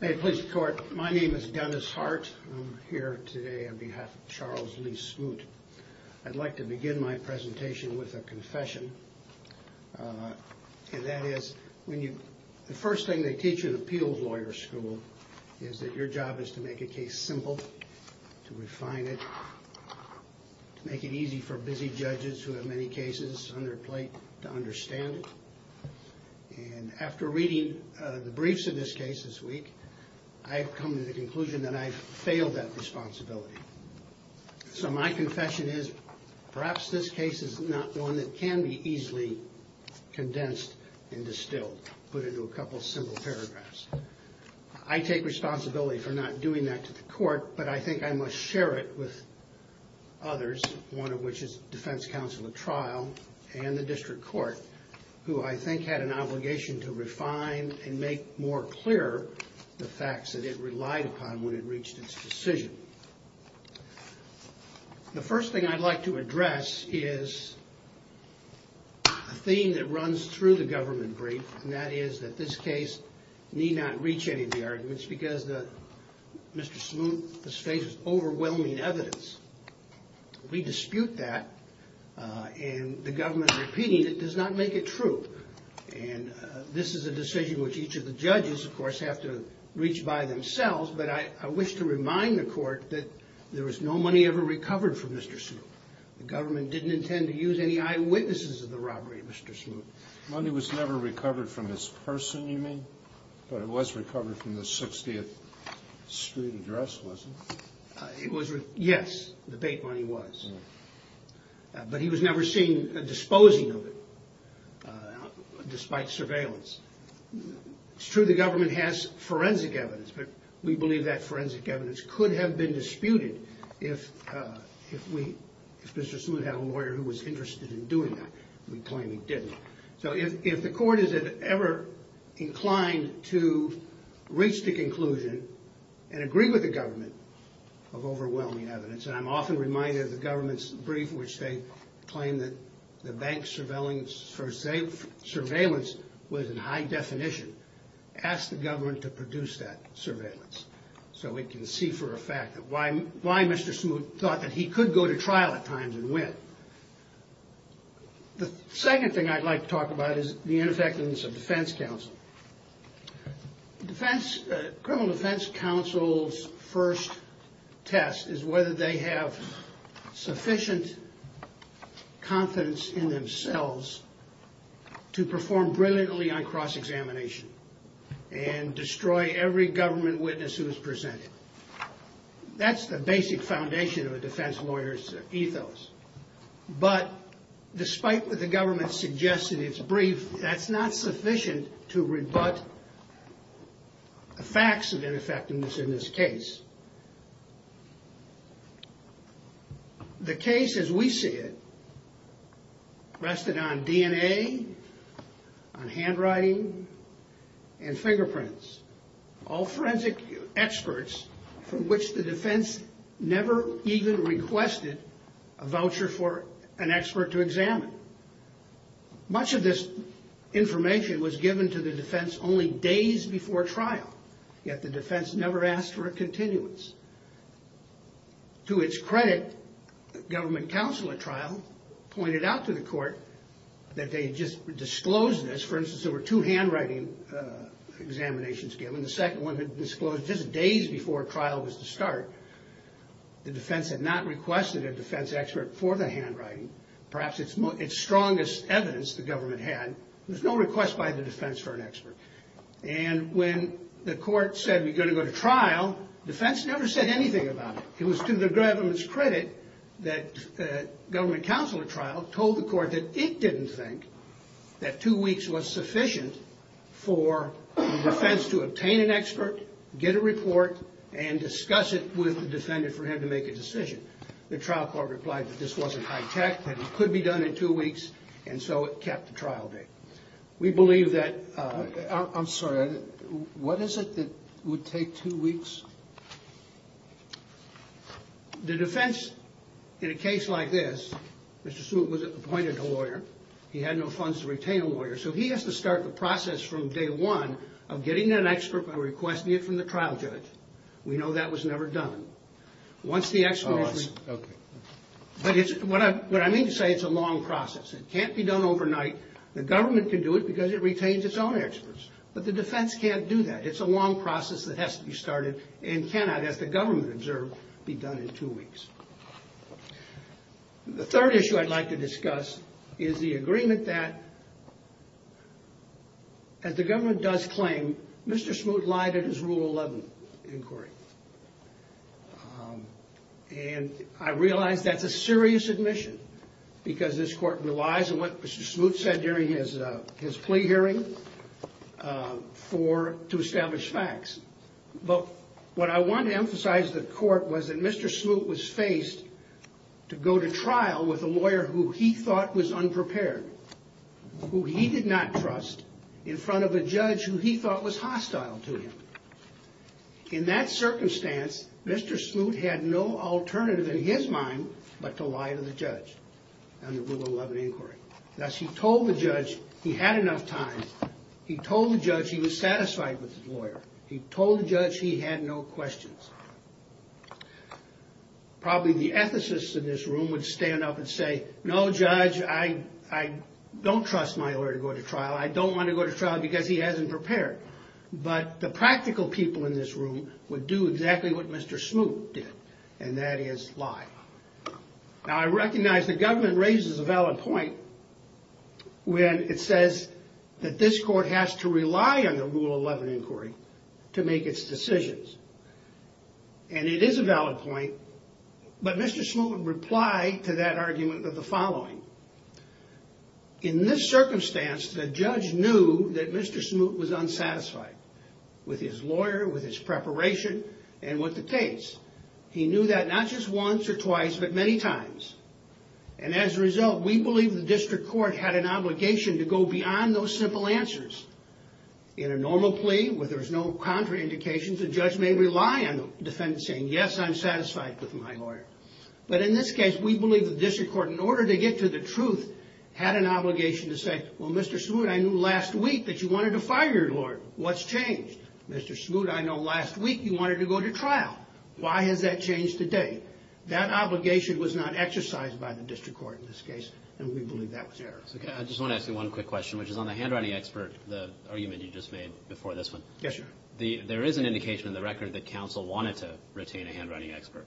May it please the court. My name is Dennis Hart. I'm here today on behalf of Charles Lee Smoot. I'd like to begin my presentation with a confession. And that is, the first thing they teach in appeals lawyer school is that your job is to make a case simple, to refine it, to make it easy for busy judges who have many cases on their plate to understand it. And after reading the briefs in this case this week, I've come to the conclusion that I've failed that responsibility. So my confession is, perhaps this case is not one that can be easily condensed and distilled, put into a couple simple paragraphs. I take responsibility for not doing that to the court, but I think I must share it with others, one of which is defense counsel at trial and the district court, who I think had an obligation to refine and make more clear the facts that it relied upon when it reached its decision. The first thing I'd like to address is a theme that runs through the government brief, and that is that this case need not reach any of the arguments because Mr. Smoot has faced overwhelming evidence. We dispute that, and the government repeating it does not make it true. And this is a decision which each of the judges, of course, have to reach by themselves, but I wish to remind the court that there was no money ever recovered from Mr. Smoot. The government didn't intend to use any eyewitnesses of the robbery, Mr. Smoot. Money was never recovered from his person, you mean? But it was recovered from the 60th Street address, was it? Yes, the bait money was. But he was never seen disposing of it, despite surveillance. It's true the government has forensic evidence, but we believe that forensic evidence could have been disputed if Mr. Smoot had a lawyer who was interested in doing that. We claim he didn't. So if the court is ever inclined to reach the conclusion and agree with the government of overwhelming evidence, and I'm often reminded of the government's brief in which they claim that the bank surveillance was in high definition, ask the government to produce that surveillance so we can see for a fact why Mr. Smoot thought that he could go to trial at times and win. The second thing I'd like to talk about is the ineffectiveness of defense counsel. The criminal defense counsel's first test is whether they have sufficient confidence in themselves to perform brilliantly on cross-examination and destroy every government witness who is presented. That's the basic foundation of a defense lawyer's ethos. But despite what the government suggests in its brief, that's not sufficient to rebut the facts of ineffectiveness in this case. The case as we see it rested on DNA, on handwriting, and fingerprints. All forensic experts from which the defense never even requested a voucher for an expert to examine. Much of this information was given to the defense only days before trial. Yet the defense never asked for a continuance. To its credit, government counsel at trial pointed out to the court that they had just disclosed this. For instance, there were two handwriting examinations given. The second one had been disclosed just days before trial was to start. The defense had not requested a defense expert for the handwriting, perhaps its strongest evidence the government had. There was no request by the defense for an expert. And when the court said we're going to go to trial, defense never said anything about it. It was to the government's credit that government counsel at trial told the court that it didn't think that two weeks was sufficient for the defense to obtain an expert, get a report, and discuss it with the defendant for him to make a decision. The trial court replied that this wasn't high-tech, that it could be done in two weeks, and so it kept the trial date. We believe that... I'm sorry. What is it that would take two weeks? The defense, in a case like this, Mr. Smoot was appointed a lawyer. He had no funds to retain a lawyer, so he has to start the process from day one of getting an expert by requesting it from the trial judge. We know that was never done. Once the experts... Oh, I see. Okay. But what I mean to say, it's a long process. It can't be done overnight. The government can do it because it retains its own experts, but the defense can't do that. It's a long process that has to be started and cannot, as the government observed, be done in two weeks. The third issue I'd like to discuss is the agreement that, as the government does claim, Mr. Smoot lied in his Rule 11 inquiry. And I realize that's a serious admission because this court relies on what Mr. Smoot said during his plea hearing to establish facts. But what I want to emphasize to the court was that Mr. Smoot was faced to go to trial with a lawyer who he thought was unprepared, who he did not trust, in front of a judge who he thought was hostile to him. In that circumstance, Mr. Smoot had no alternative in his mind but to lie to the judge on the Rule 11 inquiry. Thus, he told the judge he had enough time. He told the judge he was satisfied with his lawyer. He told the judge he had no questions. Probably the ethicists in this room would stand up and say, no judge, I don't trust my lawyer to go to trial. I don't want to go to trial because he hasn't prepared. But the practical people in this room would do exactly what Mr. Smoot did, and that is lie. Now, I recognize the government raises a valid point when it says that this court has to rely on the Rule 11 inquiry to make its decisions. And it is a valid point, but Mr. Smoot would reply to that argument with the following. In this circumstance, the judge knew that Mr. Smoot was unsatisfied with his lawyer, with his preparation, and with the case. He knew that not just once or twice, but many times. And as a result, we believe the district court had an obligation to go beyond those simple answers. In a normal plea, where there's no contraindications, the judge may rely on the defendant saying, yes, I'm satisfied with my lawyer. But in this case, we believe the district court, in order to get to the truth, had an obligation to say, well, Mr. Smoot, I knew last week that you wanted to fire your lawyer. What's changed? Mr. Smoot, I know last week you wanted to go to trial. Why has that changed today? That obligation was not exercised by the district court in this case, and we believe that was error. I just want to ask you one quick question, which is on the handwriting expert, the argument you just made before this one. Yes, sir. There is an indication in the record that counsel wanted to retain a handwriting expert.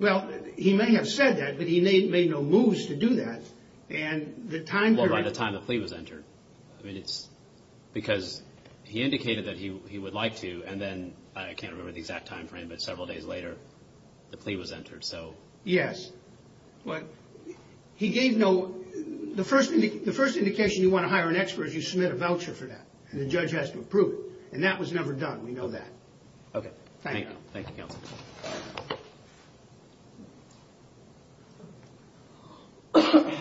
Well, he may have said that, but he made no moves to do that. And the time period... I mean, it's because he indicated that he would like to, and then, I can't remember the exact time frame, but several days later, the plea was entered, so... Yes, but he gave no... The first indication you want to hire an expert is you submit a voucher for that, and the judge has to approve it. And that was never done. We know that. Okay. Thank you. Thank you, counsel. Thank you.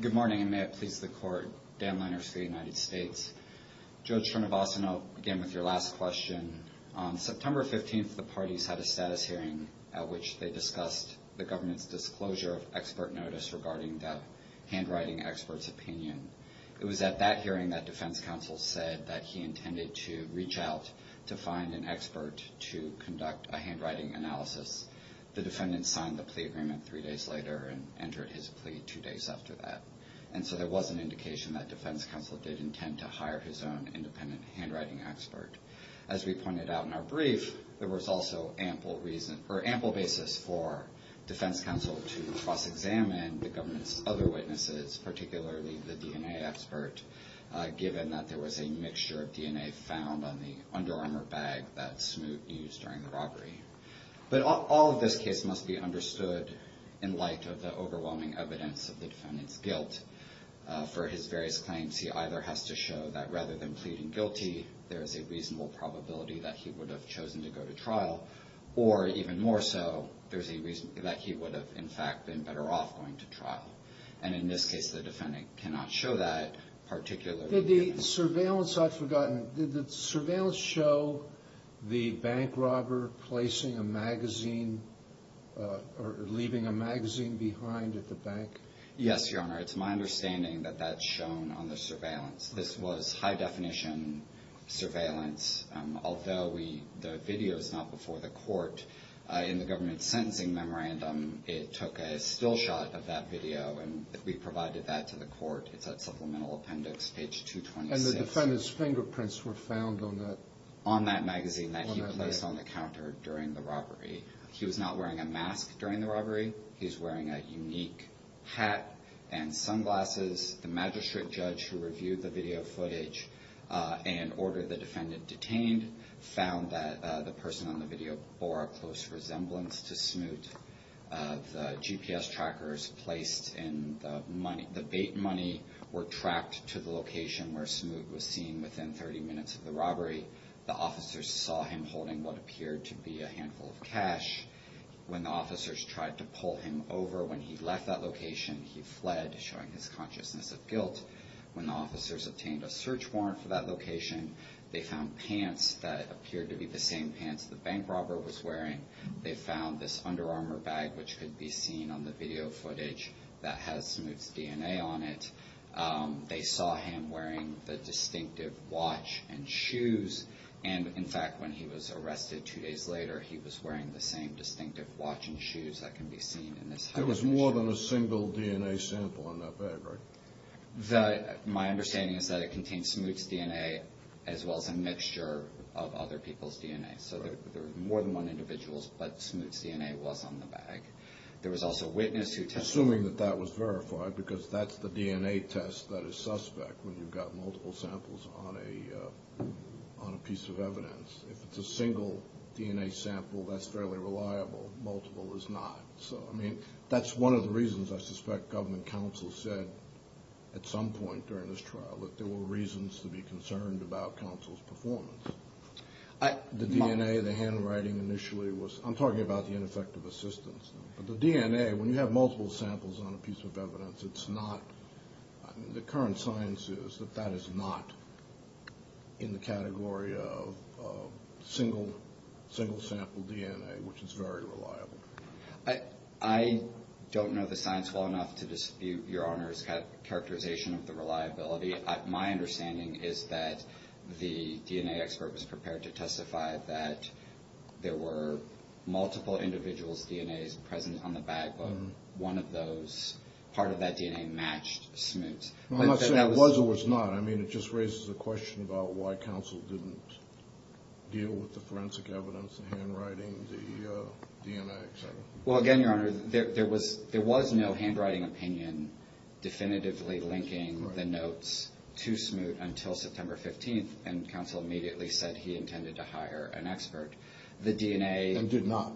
Good morning, and may it please the court. Dan Leiners for the United States. Judge Srinivasan, I'll begin with your last question. On September 15th, the parties had a status hearing at which they discussed the government's disclosure of expert notice regarding that handwriting expert's opinion. It was at that hearing that defense counsel said that he intended to reach out to find an expert to conduct a handwriting analysis. The defendant signed the plea agreement three days later and entered his plea two days after that. And so there was an indication that defense counsel did intend to hire his own independent handwriting expert. As we pointed out in our brief, there was also ample reason or ample basis for defense counsel to cross-examine the government's other witnesses, particularly the DNA expert, given that there was a mixture of DNA found on the underarmor bag that Smoot used during the robbery. But all of this case must be understood in light of the overwhelming evidence of the defendant's guilt. For his various claims, he either has to show that rather than pleading guilty, there is a reasonable probability that he would have chosen to go to trial, or even more so, there's a reason that he would have, in fact, been better off going to trial. And in this case, the defendant cannot show that particularly. Did the surveillance I've forgotten, did the surveillance show the bank robber placing a magazine or leaving a magazine behind at the bank? Yes, Your Honor. It's my understanding that that's shown on the surveillance. This was high-definition surveillance. Although the video is not before the court, in the government's sentencing memorandum, it took a still shot of that video, and we provided that to the court. It's at Supplemental Appendix, page 226. And the defendant's fingerprints were found on that? On that magazine that he placed on the counter during the robbery. He was not wearing a mask during the robbery. He was wearing a unique hat and sunglasses. The magistrate judge who reviewed the video footage and ordered the defendant detained found that the person on the video bore a close resemblance to Smoot. The GPS trackers placed in the bait money were tracked to the location where Smoot was seen within 30 minutes of the robbery. The officers saw him holding what appeared to be a handful of cash. When the officers tried to pull him over when he left that location, he fled, showing his consciousness of guilt. When the officers obtained a search warrant for that location, they found pants that appeared to be the same pants the bank robber was wearing. They found this Under Armour bag, which could be seen on the video footage, that has Smoot's DNA on it. They saw him wearing the distinctive watch and shoes. And, in fact, when he was arrested two days later, he was wearing the same distinctive watch and shoes that can be seen in this high-resolution video. There was more than a single DNA sample in that bag, right? My understanding is that it contained Smoot's DNA as well as a mixture of other people's DNA. So there were more than one individual, but Smoot's DNA was on the bag. Assuming that that was verified, because that's the DNA test that is suspect when you've got multiple samples on a piece of evidence. If it's a single DNA sample, that's fairly reliable. Multiple is not. So, I mean, that's one of the reasons I suspect government counsel said at some point during this trial that there were reasons to be concerned about counsel's performance. The DNA, the handwriting initially was – I'm talking about the ineffective assistance. But the DNA, when you have multiple samples on a piece of evidence, it's not – the current science is that that is not in the category of single-sample DNA, which is very reliable. I don't know the science well enough to dispute Your Honor's characterization of the reliability. My understanding is that the DNA expert was prepared to testify that there were multiple individuals' DNAs present on the bag, but one of those – part of that DNA matched Smoot's. I'm not saying it was or was not. I mean, it just raises a question about why counsel didn't deal with the forensic evidence, the handwriting, the DNA, et cetera. Well, again, Your Honor, there was no handwriting opinion definitively linking the notes to Smoot until September 15th, and counsel immediately said he intended to hire an expert. The DNA – And did not.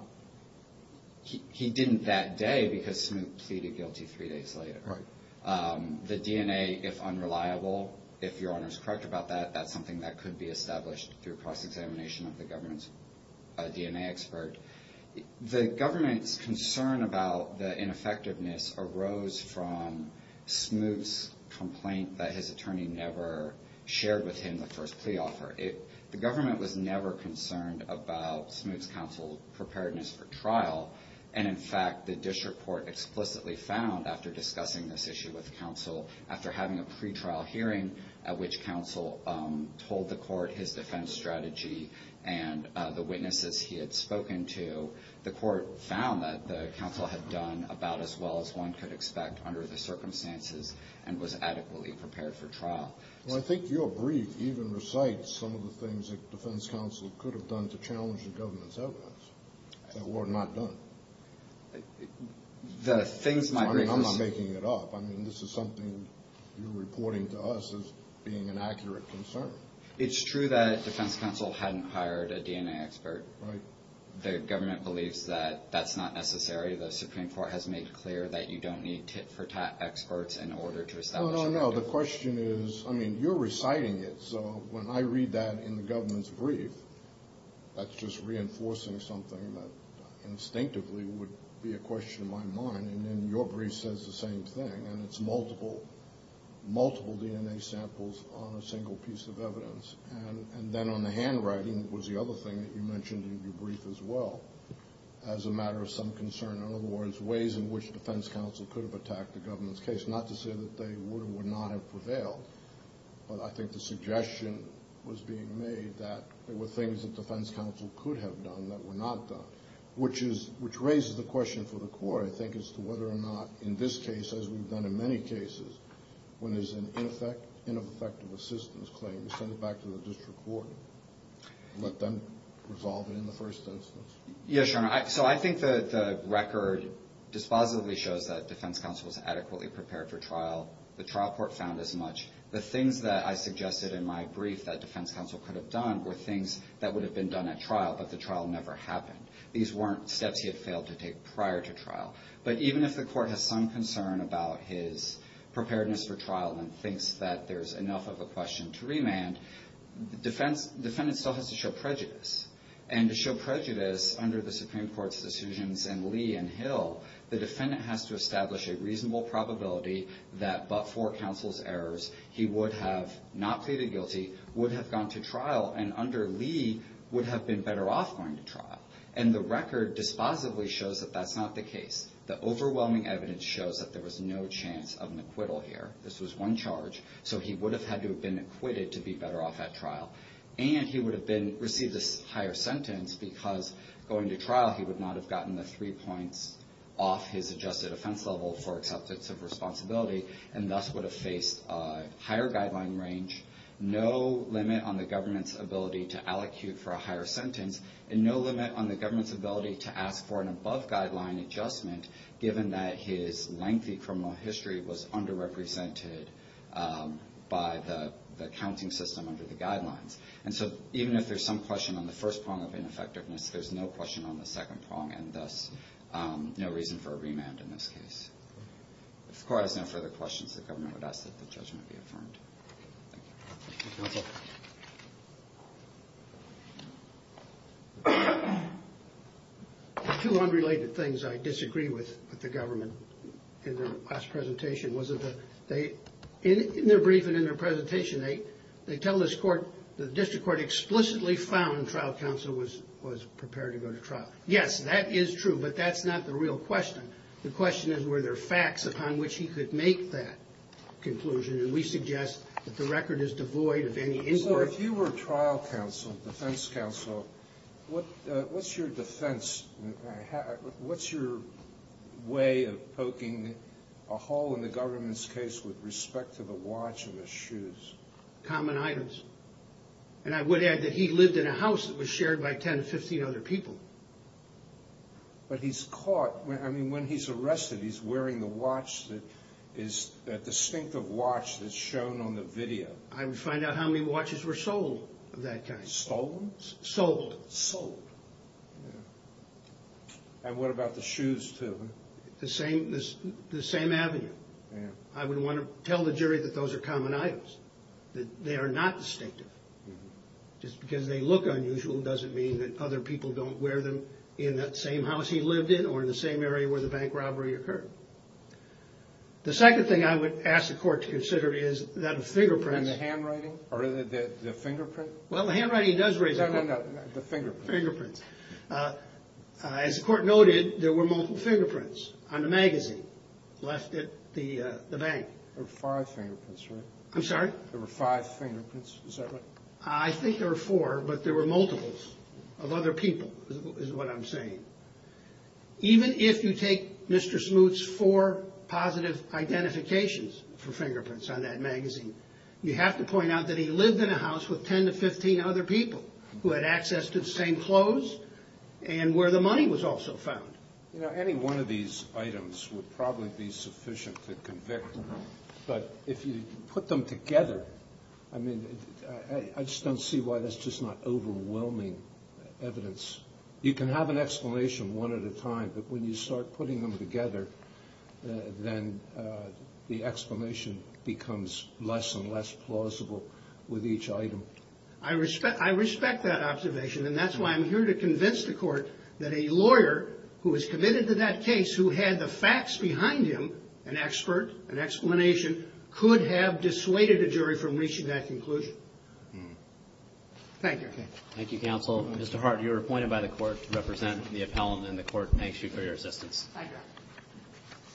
He didn't that day because Smoot pleaded guilty three days later. Right. The DNA, if unreliable, if Your Honor's correct about that, that's something that could be established through cross-examination of the government's DNA expert. The government's concern about the ineffectiveness arose from Smoot's complaint that his attorney never shared with him the first plea offer. The government was never concerned about Smoot's counsel preparedness for trial. And, in fact, the district court explicitly found, after discussing this issue with counsel, after having a pretrial hearing at which counsel told the court his defense strategy and the witnesses he had spoken to, the court found that the counsel had done about as well as one could expect under the circumstances and was adequately prepared for trial. Well, I think your brief even recites some of the things that defense counsel could have done to challenge the government's evidence that were not done. The things my brief was – I'm not making it up. I mean, this is something you're reporting to us as being an accurate concern. It's true that defense counsel hadn't hired a DNA expert. Right. The government believes that that's not necessary. The Supreme Court has made clear that you don't need tit-for-tat experts in order to establish – No, no, no. The question is – I mean, you're reciting it, so when I read that in the government's brief, that's just reinforcing something that instinctively would be a question in my mind. And then your brief says the same thing, and it's multiple, multiple DNA samples on a single piece of evidence. And then on the handwriting was the other thing that you mentioned in your brief as well as a matter of some concern. In other words, ways in which defense counsel could have attacked the government's case, not to say that they would or would not have prevailed, but I think the suggestion was being made that there were things that defense counsel could have done that were not done, which raises the question for the court, I think, as to whether or not in this case, as we've done in many cases, when there's an ineffective assistance claim, you send it back to the district court and let them resolve it in the first instance. Yes, Your Honor, so I think the record dispositively shows that defense counsel was adequately prepared for trial. The trial court found as much. The things that I suggested in my brief that defense counsel could have done were things that would have been done at trial, but the trial never happened. These weren't steps he had failed to take prior to trial. But even if the court has some concern about his preparedness for trial and thinks that there's enough of a question to remand, the defendant still has to show prejudice, and to show prejudice under the Supreme Court's decisions in Lee and Hill, the defendant has to establish a reasonable probability that but for counsel's errors, he would have not pleaded guilty, would have gone to trial, and under Lee, would have been better off going to trial. And the record dispositively shows that that's not the case. The overwhelming evidence shows that there was no chance of an acquittal here. This was one charge, so he would have had to have been acquitted to be better off at trial. And he would have received a higher sentence because going to trial, he would not have gotten the three points off his adjusted offense level for acceptance of responsibility and thus would have faced a higher guideline range, no limit on the government's ability to allocute for a higher sentence, and no limit on the government's ability to ask for an above guideline adjustment given that his lengthy criminal history was underrepresented by the accounting system under the guidelines. And so even if there's some question on the first prong of ineffectiveness, there's no question on the second prong, and thus no reason for a remand in this case. If the court has no further questions, the government would ask that the judgment be affirmed. Thank you. Thank you, counsel. There are two unrelated things I disagree with the government in their last presentation. In their brief and in their presentation, they tell the district court explicitly found trial counsel was prepared to go to trial. Yes, that is true, but that's not the real question. The question is were there facts upon which he could make that conclusion, and we suggest that the record is devoid of any inquiry. If you were trial counsel, defense counsel, what's your defense? What's your way of poking a hole in the government's case with respect to the watch and the shoes? Common items. And I would add that he lived in a house that was shared by 10 or 15 other people. But he's caught. I mean, when he's arrested, he's wearing the watch that is a distinctive watch that's shown on the video. I would find out how many watches were sold of that kind. Stolen? Sold. Sold. And what about the shoes, too? The same avenue. I would want to tell the jury that those are common items, that they are not distinctive. Just because they look unusual doesn't mean that other people don't wear them in that same house he lived in or in the same area where the bank robbery occurred. The second thing I would ask the court to consider is that a fingerprint. And the handwriting? Or the fingerprint? Well, the handwriting does raise a point. No, no, no, the fingerprints. Fingerprints. As the court noted, there were multiple fingerprints on the magazine left at the bank. There were five fingerprints, right? I'm sorry? There were five fingerprints, is that right? I think there were four, but there were multiples of other people is what I'm saying. Even if you take Mr. Smoot's four positive identifications for fingerprints on that magazine, you have to point out that he lived in a house with 10 to 15 other people who had access to the same clothes and where the money was also found. You know, any one of these items would probably be sufficient to convict. But if you put them together, I mean, I just don't see why that's just not overwhelming evidence. You can have an explanation one at a time, but when you start putting them together, then the explanation becomes less and less plausible with each item. I respect that observation, and that's why I'm here to convince the court that a lawyer who is committed to that case who had the facts behind him, an expert, an explanation, could have dissuaded a jury from reaching that conclusion. Thank you. Thank you, counsel. Mr. Hart, you are appointed by the court to represent the appellant, Thank you.